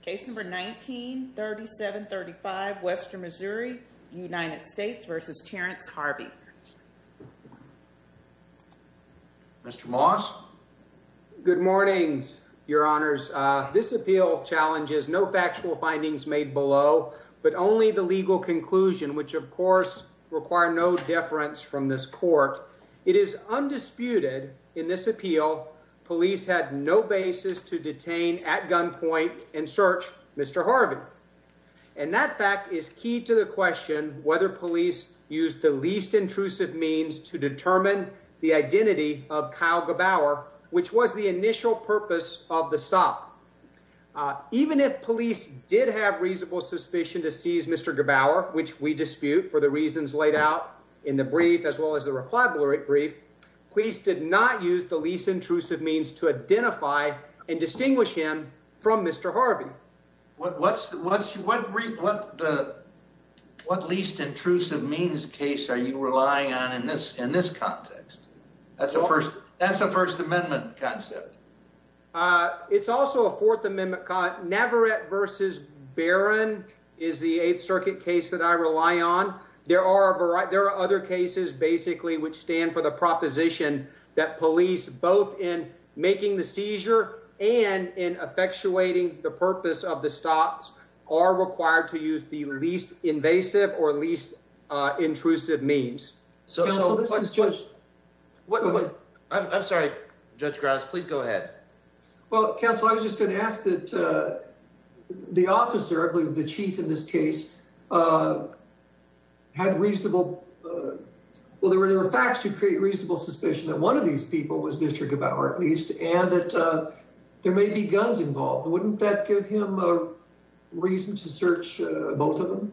Case number 1937 35 Western Missouri United States versus Terrence Harvey. Mr. Moss. Good morning, your honors. This appeal challenges no factual findings made below, but only the legal conclusion, which, of course, require no deference from this court. It is search Mr Harvey. And that fact is key to the question whether police used the least intrusive means to determine the identity of Kyle Gabour, which was the initial purpose of the stop. Even if police did have reasonable suspicion to seize Mr Gabour, which we dispute for the reasons laid out in the brief as well as the reply brief, police did not use the least intrusive means case. Are you relying on in this in this context? That's the first. That's the First Amendment concept. It's also a Fourth Amendment. Never at versus Baron is the Eighth Circuit case that I rely on. There are a variety. There are other cases basically which stand for the proposition that police, both in making the seizure and in effectuating the purpose of the stops, are required to use the least invasive or least intrusive means. So this is just what I'm sorry, Judge Grass. Please go ahead. Well, counsel, I was just gonna ask that the officer, I believe the chief in this case, had reasonable. Well, there were facts to create reasonable suspicion that one of these people was Mr Gabour, at least, and that there may be guns involved. Wouldn't that give him a reason to search both of them?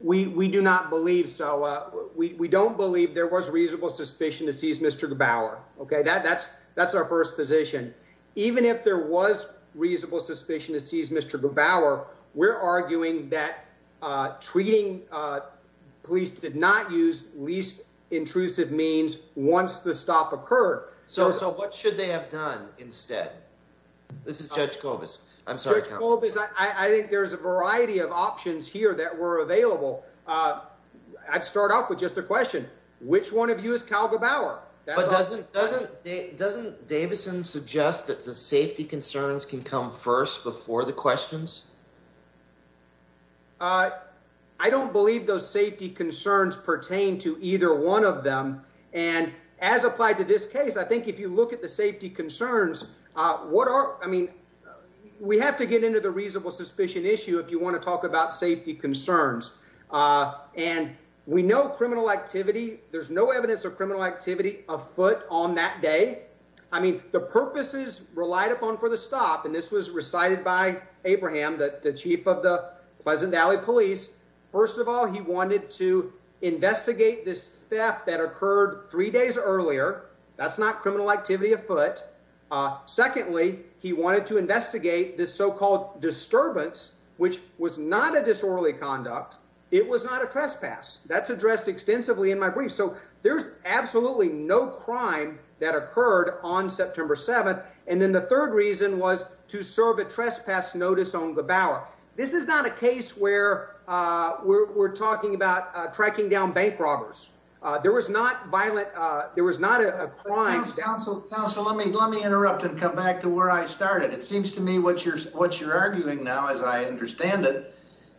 We do not believe so. We don't believe there was reasonable suspicion to seize Mr Gabour. OK, that's that's our first position. Even if there was reasonable suspicion to seize Mr Gabour, we're arguing that treating police did not use least intrusive means once the stop occurred. So what should they have done instead? This is Judge Cobus. I'm sorry. I think there's a variety of options here that were available. I'd start off with just a question. Which one of you is Cal Gabour? But doesn't doesn't Davison suggest that the safety concerns can come first before the questions? I don't believe those safety concerns pertain to either one of them. And as applied to this case, I think if you look at the safety concerns, what are I mean, we have to get into the reasonable suspicion issue if you want to talk about safety concerns. And we know criminal activity. There's no evidence of criminal activity afoot on that day. I mean, the purposes relied upon for the stop. And this was recited by Abraham, the chief of the Pleasant Valley Police. First of all, he wanted to investigate this theft that occurred three days earlier. That's not criminal activity afoot. Secondly, he wanted to investigate this so-called disturbance, which was not a disorderly There's absolutely no crime that occurred on September 7th. And then the third reason was to serve a trespass notice on Gabour. This is not a case where we're talking about tracking down bank robbers. There was not violent. There was not a crime. So let me let me interrupt and come back to where I started. It seems to me what you're what you're arguing now, as I understand it,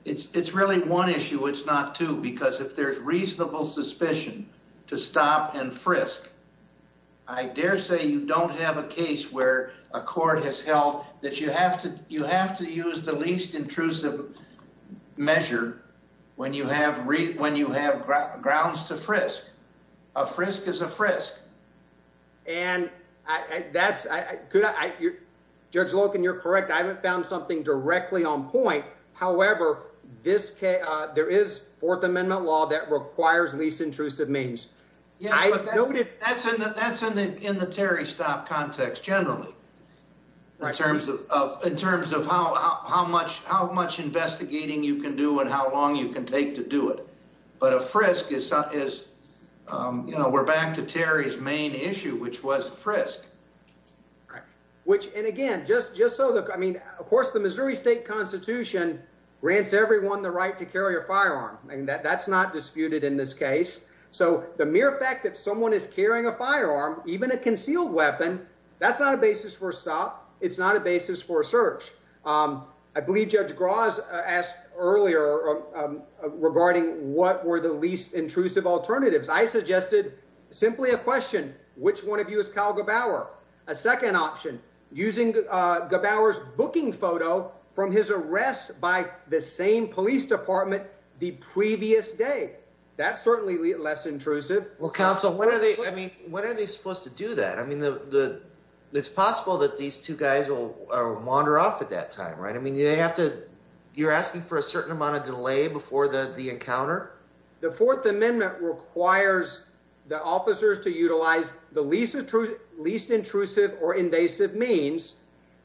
it's really one issue. It's not two, because if there's reasonable suspicion to stop and frisk, I dare say you don't have a case where a court has held that you have to you have to use the least intrusive measure when you have when you have grounds to frisk. A frisk is a frisk. And that's good. Judge Loken, you're correct. I haven't found something directly on point. However, this case, there is Fourth Amendment law that requires least intrusive means. That's in that that's in the in the Terry stop context generally. In terms of in terms of how much how much investigating you can do and how long you can take to do it. But a frisk is, you know, we're back to Terry's main issue, which was frisk. Right. Which and again, just just so that I mean, of course, the Missouri State Constitution grants everyone the right to carry a firearm. I mean, that's not disputed in this case. So the mere fact that someone is carrying a firearm, even a concealed weapon, that's not a basis for stop. It's not a basis for search. I believe Judge Gross asked earlier regarding what were the least intrusive alternatives. I suggested simply a question, which one of you is Kyle Gbauer? A second option using Gbauer's booking photo from his arrest by the same police department the previous day. That's certainly less intrusive. Well, counsel, what are they? I mean, what are they supposed to do that? I mean, it's possible that these two guys will wander off at that time, right? I mean, you're asking for a certain amount of delay before the encounter. The Fourth Amendment requires the officers to utilize the least intrusive or invasive means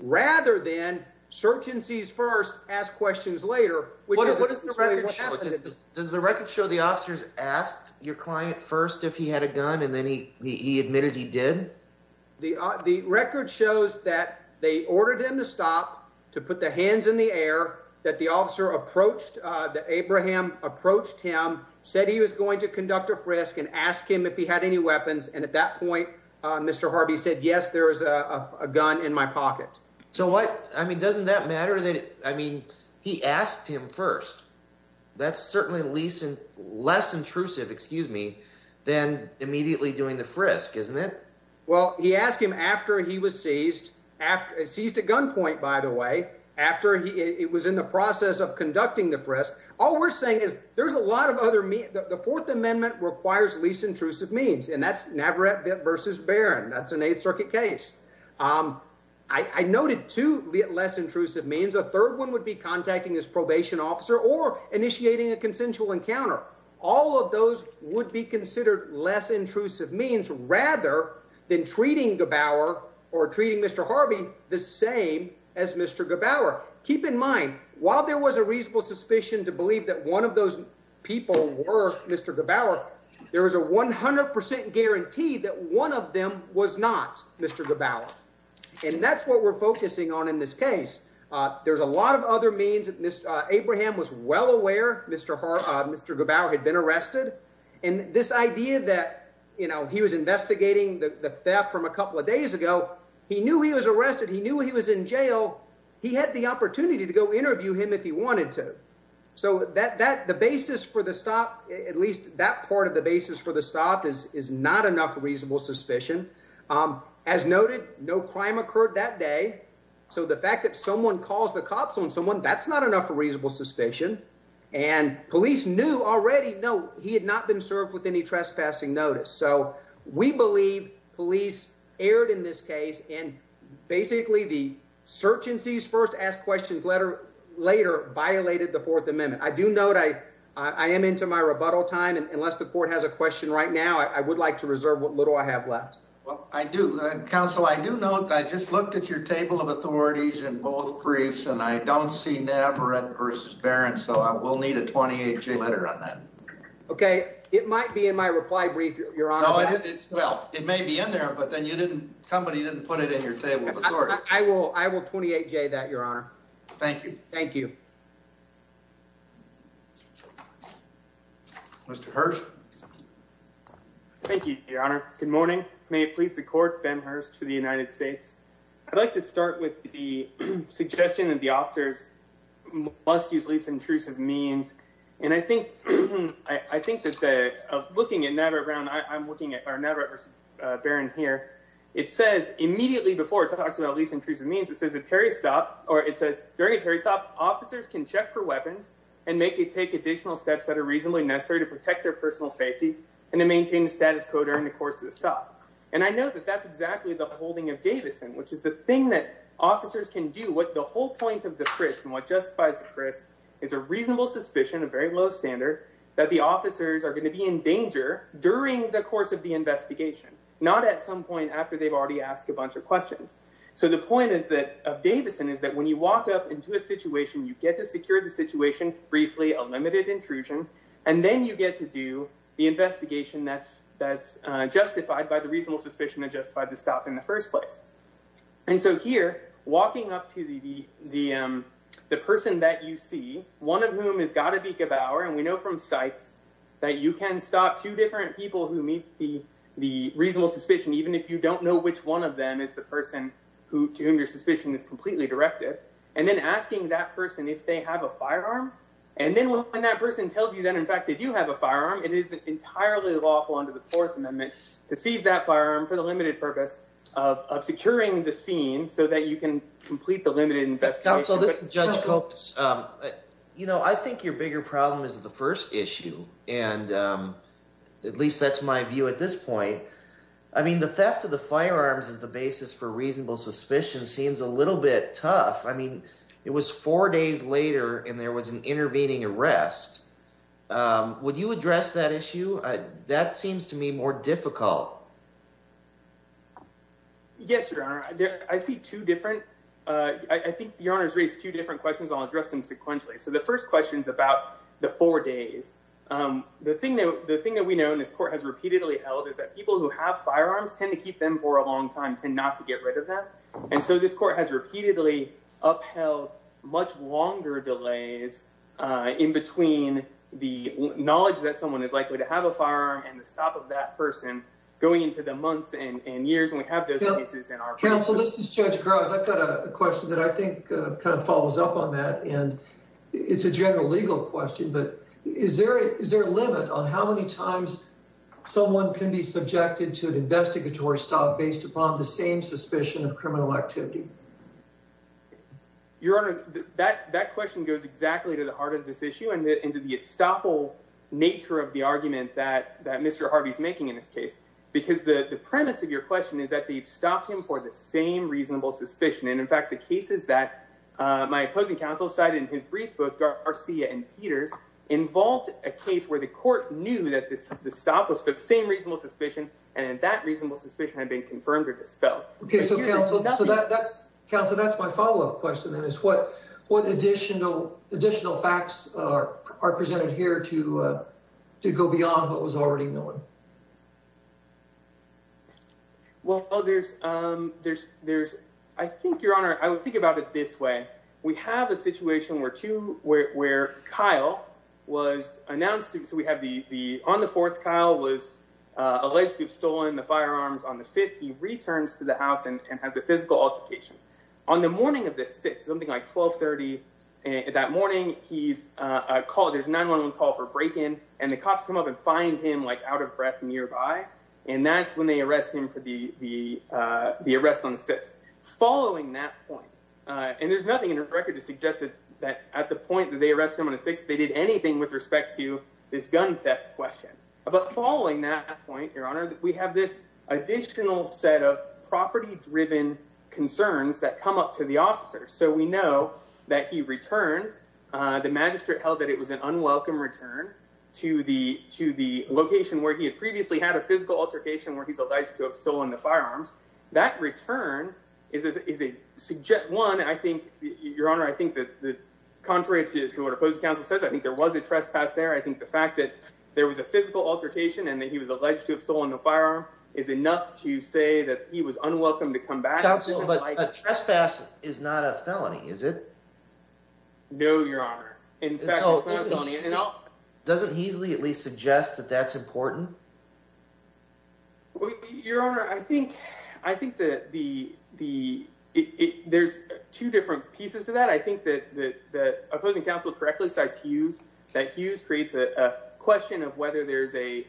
rather than search and seize first, ask questions later. Does the record show the officers asked your client first if he had a gun and then he admitted he did? The record shows that they ordered him to stop, to put their hands in the air, that the officer approached, that Abraham approached him, said he was going to conduct a frisk and ask him if he had any weapons. And at that point, Mr. Harvey said, yes, there is a gun in my pocket. So what? I mean, doesn't that matter? I mean, he asked him first. That's certainly less intrusive, excuse me, than immediately doing the frisk, isn't it? Well, he asked him after he was seized, after he seized a gunpoint, by the way, after he was in the process of conducting the frisk. All we're saying is there's a lot of other means. The Fourth Amendment requires least intrusive means, and that's Navarrette versus Barron. That's an Eighth Circuit case. I noted two less intrusive means. A third one would be contacting his probation officer or initiating a consensual encounter. All of those would be less intrusive than treating Gebauer or treating Mr. Harvey the same as Mr. Gebauer. Keep in mind, while there was a reasonable suspicion to believe that one of those people were Mr. Gebauer, there was a 100% guarantee that one of them was not Mr. Gebauer. And that's what we're focusing on in this case. There's a lot of other means. Abraham was well aware Mr. Gebauer had been arrested. And this idea that he was investigating the theft from a couple of days ago, he knew he was arrested. He knew he was in jail. He had the opportunity to go interview him if he wanted to. So the basis for the stop, at least that part of the basis for the stop, is not enough reasonable suspicion. As noted, no crime occurred that day. So the fact that someone calls the cops on someone, that's not enough reasonable suspicion. And police knew already, no, he had not been served with any police aired in this case. And basically the search and cease first ask questions letter later violated the fourth amendment. I do note I am into my rebuttal time. And unless the court has a question right now, I would like to reserve what little I have left. Well, I do counsel. I do know that I just looked at your table of authorities and both briefs, and I don't see Navarrete versus Barron. So I will need a 28 day letter on that. Okay. It might be in my reply brief, your honor. Well, it may be in there, but then you didn't, somebody didn't put it in your table. I will. I will 28 day that your honor. Thank you. Thank you. Mr. Hurst. Thank you, your honor. Good morning. May it please the court Ben Hurst for the United States. I'd like to start with the suggestion that the officers must use least intrusive means. And I think, I think that the, of looking at Navarrete Brown, I'm looking at Navarrete versus Barron here. It says immediately before it talks about least intrusive means it says a Terry stop, or it says during a Terry stop officers can check for weapons and make it take additional steps that are reasonably necessary to protect their personal safety and to maintain the status code during the course of the stop. And I know that that's exactly the holding of Davison, which is the thing that officers can do. What the whole point of the frisk and what justifies the frisk is a reasonable suspicion, a very low standard that the officers are going to be in danger during the course of the investigation, not at some point after they've already asked a bunch of questions. So the point is that of Davison is that when you walk up into a situation, you get to secure the situation briefly, a limited intrusion, and then you get to do the investigation. That's that's justified by the reasonable suspicion and justified to stop in the first place. And so here, walking up to the the the person that you see, one of whom has got to be Gebauer, and we know from sites that you can stop two different people who meet the the reasonable suspicion, even if you don't know which one of them is the person who to whom your suspicion is completely directed, and then asking that person if they have a firearm. And then when that person tells you that, in fact, they do have a firearm, it is entirely lawful under the Fourth Amendment. So you're securing the scene so that you can complete the limited investigation. Counsel, this is Judge Coates. You know, I think your bigger problem is the first issue. And at least that's my view at this point. I mean, the theft of the firearms is the basis for reasonable suspicion seems a little bit tough. I mean, it was four days later, and there was an intervening arrest. Would you address that issue? That seems to me more difficult. Yes, Your Honor. I see two different. I think Your Honor has raised two different questions. I'll address them sequentially. So the first question is about the four days. The thing that the thing that we know in this court has repeatedly held is that people who have firearms tend to keep them for a long time, tend not to get rid of them. And so this court has repeatedly upheld much longer delays in between the knowledge that someone is likely to have a going into the months and years, and we have those cases in our counsel. This is Judge Gross. I've got a question that I think kind of follows up on that, and it's a general legal question. But is there is there a limit on how many times someone can be subjected to an investigatory stop based upon the same suspicion of criminal activity? Your Honor, that that question goes exactly to the heart of this issue and into the estoppel nature of the argument that that Mr. Harvey's making in this case, because the premise of your question is that they've stopped him for the same reasonable suspicion. And in fact, the cases that my opposing counsel cited in his brief book, Garcia and Peters, involved a case where the court knew that this stop was for the same reasonable suspicion and that reasonable suspicion had been confirmed or dispelled. OK, so counsel, so that's counsel. That's my follow up question. That is what what additional additional facts are presented here to to go beyond what was already known. Well, there's there's there's I think, Your Honor, I would think about it this way. We have a situation where two where Kyle was announced. So we have the on the fourth. Kyle was alleged to have stolen the firearms on the fifth. He returns to the house and has a physical altercation on the morning of the sixth, something like 1230. And that morning he's called his 911 call for break in and the cops come up and find him like out of breath nearby. And that's when they arrest him for the the the arrest on the sixth. Following that point, and there's nothing in the record to suggest that at the point that they arrest him on the sixth, they did anything with respect to this gun theft question. But following that point, Your Honor, we have this additional set of property driven concerns that come up to the officers. So we know that he returned. The magistrate held that it was an unwelcome return to the to the location where he had previously had a physical altercation where he's alleged to have stolen the firearms. That return is a is a one. I think, Your Honor, I think that contrary to what opposed counsel says, I think there was a trespass there. I think the fact that there was a physical altercation and that he was alleged to have stolen the firearm is enough to say that he was unwelcome to come back. But a trespass is not a felony, is it? No, Your Honor. In fact, you know, doesn't easily at least suggest that that's important. Your Honor, I think I think that the the there's two different pieces to that. I think that the question of whether there's a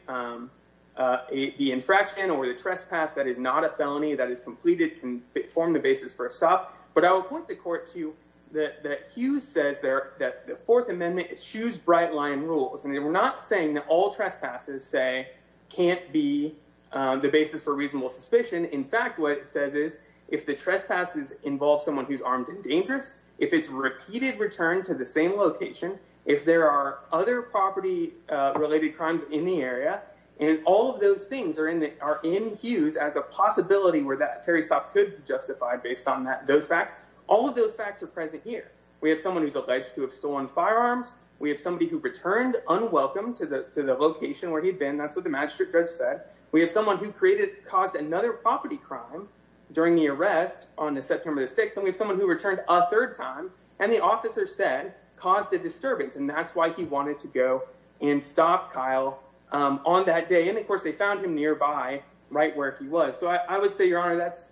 the infraction or the trespass that is not a felony that is completed can form the basis for a stop. But I will point the court to that. Hughes says there that the Fourth Amendment is shoes bright line rules. And we're not saying that all trespasses, say, can't be the basis for reasonable suspicion. In fact, what it says is if the trespasses involve someone who's armed and dangerous, if it's repeated return to the same location, if there are other property related crimes in the area and all of those things are in the are in Hughes as a possibility where that Terry stop could justify based on that. Those facts, all of those facts are present here. We have someone who's alleged to have stolen firearms. We have somebody who returned unwelcome to the to the location where he'd been. That's what the magistrate judge said. We have someone who created caused another property crime during the arrest on the September 6th. And we have someone who returned a third time and the officer said caused a disturbance. And that's why he wanted to go and stop Kyle on that day. And, of course, they found him nearby right where he was. So I would say, your honor, that's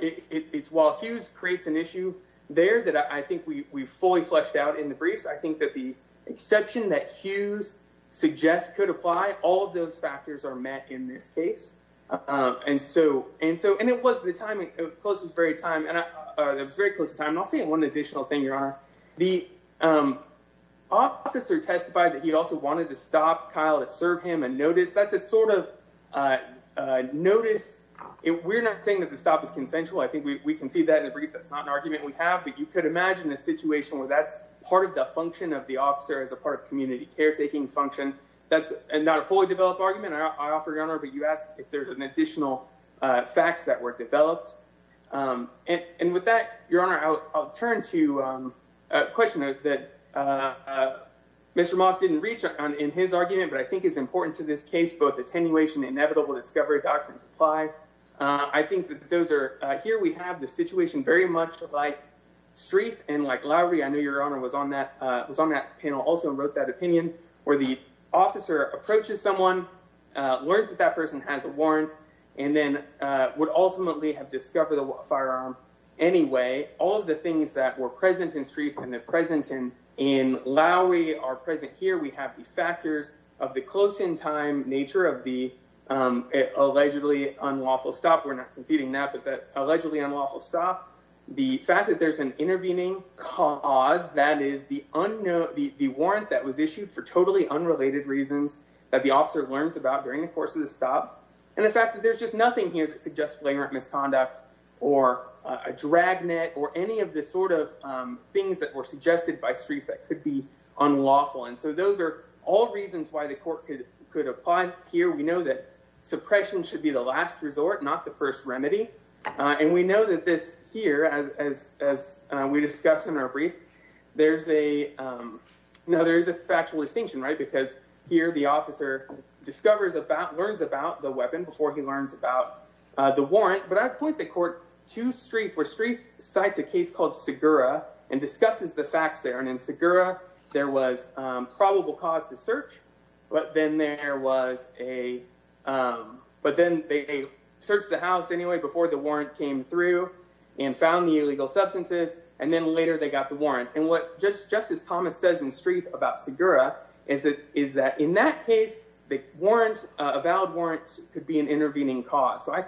it's while Hughes creates an issue there that I think we fully fleshed out in the briefs. I think that the exception that Hughes suggests could apply. All of those factors are met in this case. And so and so and it was the time it was very time and it was very close time. And I'll say one additional thing. Your honor, the officer testified that he also wanted to stop Kyle to serve him and notice that's a sort of notice. We're not saying that the stop is consensual. I think we can see that in the brief. That's not an argument we have. But you could imagine a situation where that's part of the function of the officer as a part of community caretaking function. That's not a fully developed argument. I offer your honor. But you ask if there's an Your honor, I'll turn to a question that Mr. Moss didn't reach on in his argument, but I think it's important to this case, both attenuation, inevitable discovery, doctrines apply. I think those are here. We have the situation very much like street and like Larry. I know your honor was on that was on that panel also wrote that opinion where the officer approaches someone, learns that that person has a warrant and then would have discovered the firearm. Anyway, all of the things that were present in street and the present in in Lowry are present here. We have the factors of the close in time nature of the allegedly unlawful stop. We're not conceding that, but that allegedly unlawful stop the fact that there's an intervening cause that is the unknown, the warrant that was issued for totally unrelated reasons that the officer learns about during the course of the stop. And the fact that there's just nothing here that suggests flagrant misconduct or a drag net or any of the sort of things that were suggested by street that could be unlawful. And so those are all reasons why the court could could apply here. We know that suppression should be the last resort, not the first remedy. And we know that this here, as as as we discussed in our brief, there's a now there is a factual distinction, right? Because here the officer discovers about learns about the weapon before he learns about the warrant. But I point the court to street for street sites, a case called Sakura and discusses the facts there. And in Sakura there was probable cause to search. But then there was a but then they searched the house anyway before the warrant came through and found the illegal substances. And then later they got the warrant. And what just just as Thomas says in So I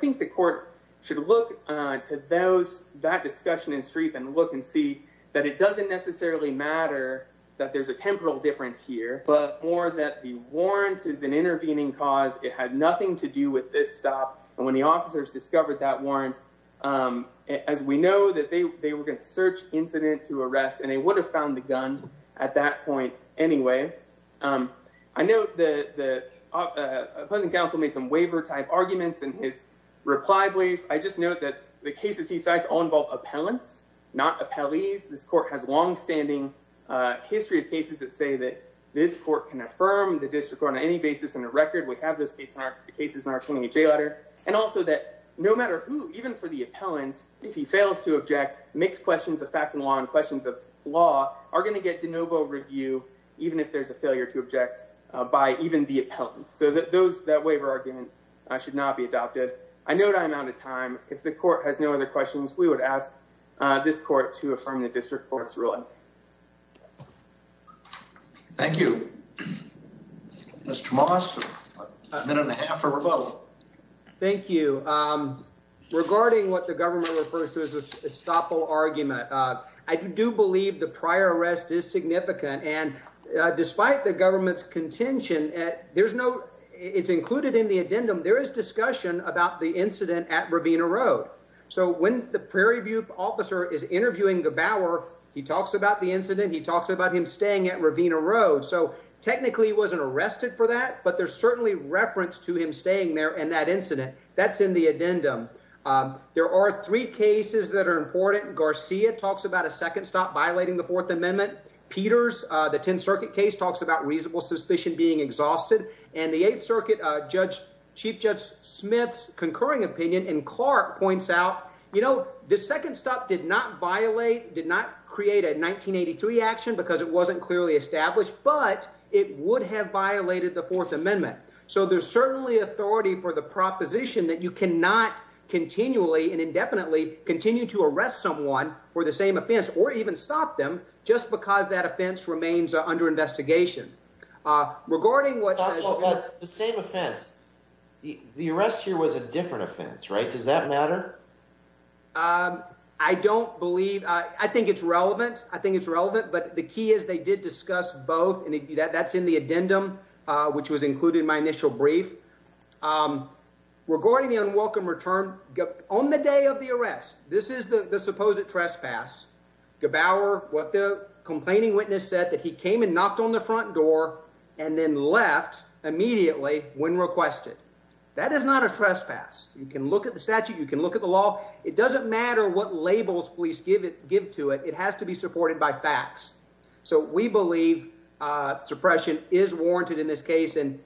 think the court should look to those that discussion in street and look and see that it doesn't necessarily matter that there's a temporal difference here, but more that the warrant is an intervening cause. It had nothing to do with this stop. And when the officers discovered that warrant, as we know, that they were going to search incident to arrest, and they would have found the gun at that point. Anyway, I know that the counsel made some waiver type arguments in his reply brief. I just know that the cases he cites all involve appellants, not appellees. This court has longstanding history of cases that say that this court can affirm the district on any basis in a record. We have those cases in our 28 J letter. And also that no matter who, even for the appellant, if he fails to object, mixed questions of fact and law and questions of law are going to get de novo review, even if there's a waiver argument should not be adopted. I know that I'm out of time. If the court has no other questions, we would ask this court to affirm the district court's ruling. Thank you. Mr Moss, a minute and a half for rebuttal. Thank you. Regarding what the government refers to as a stopple argument, I do believe the prior arrest is significant. And despite the government's intention, there's no, it's included in the addendum. There is discussion about the incident at Ravina Road. So when the Prairie View officer is interviewing the Bauer, he talks about the incident. He talks about him staying at Ravina Road. So technically he wasn't arrested for that, but there's certainly reference to him staying there and that incident that's in the addendum. There are three cases that are important. Garcia talks about a second stop violating the fourth exhausted and the eighth circuit, uh, judge chief judge Smith's concurring opinion and Clark points out, you know, the second stop did not violate, did not create a 1983 action because it wasn't clearly established, but it would have violated the fourth amendment. So there's certainly authority for the proposition that you cannot continually and indefinitely continue to arrest someone for the same offense, or even stop them just because that offense remains under investigation. Uh, regarding what the same offense, the arrest here was a different offense, right? Does that matter? Um, I don't believe, uh, I think it's relevant. I think it's relevant, but the key is they did discuss both and that's in the addendum, uh, which was included in my initial brief, um, regarding the unwelcome return on the day of the arrest. This is the supposed trespass. Gebauer, what the complaining witness said that he came and knocked on the front door and then left immediately when requested. That is not a trespass. You can look at the statute, you can look at the law. It doesn't matter what labels please give it, give to it. It has to be supported by facts. So we believe, uh, suppression is warranted in this case. And,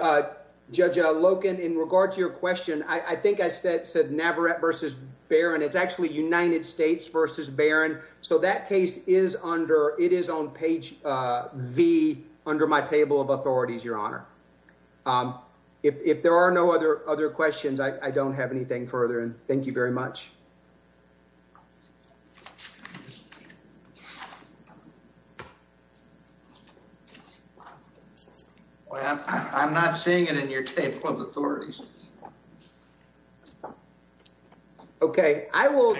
uh, Judge Loken, in regard to your question, I think I said, said never at versus Baron. It's actually United States versus Baron. So that case is under, it is on page, uh, V under my table of authorities. Your honor. Um, if, if there are no other, other questions, I don't have anything further. And thank you very much. Well, I'm not seeing it in your table of authorities. Okay. I will.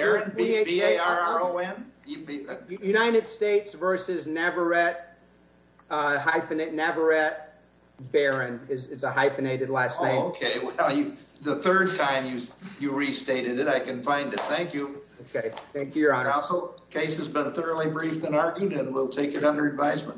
United States versus never at, uh, hyphenate never at Baron is it's a hyphenated last name. The third time you, you restated it. I can find it. Thank you. Okay. Thank you. Your honor. Also case has been thoroughly briefed and argued and we'll take it under advisement.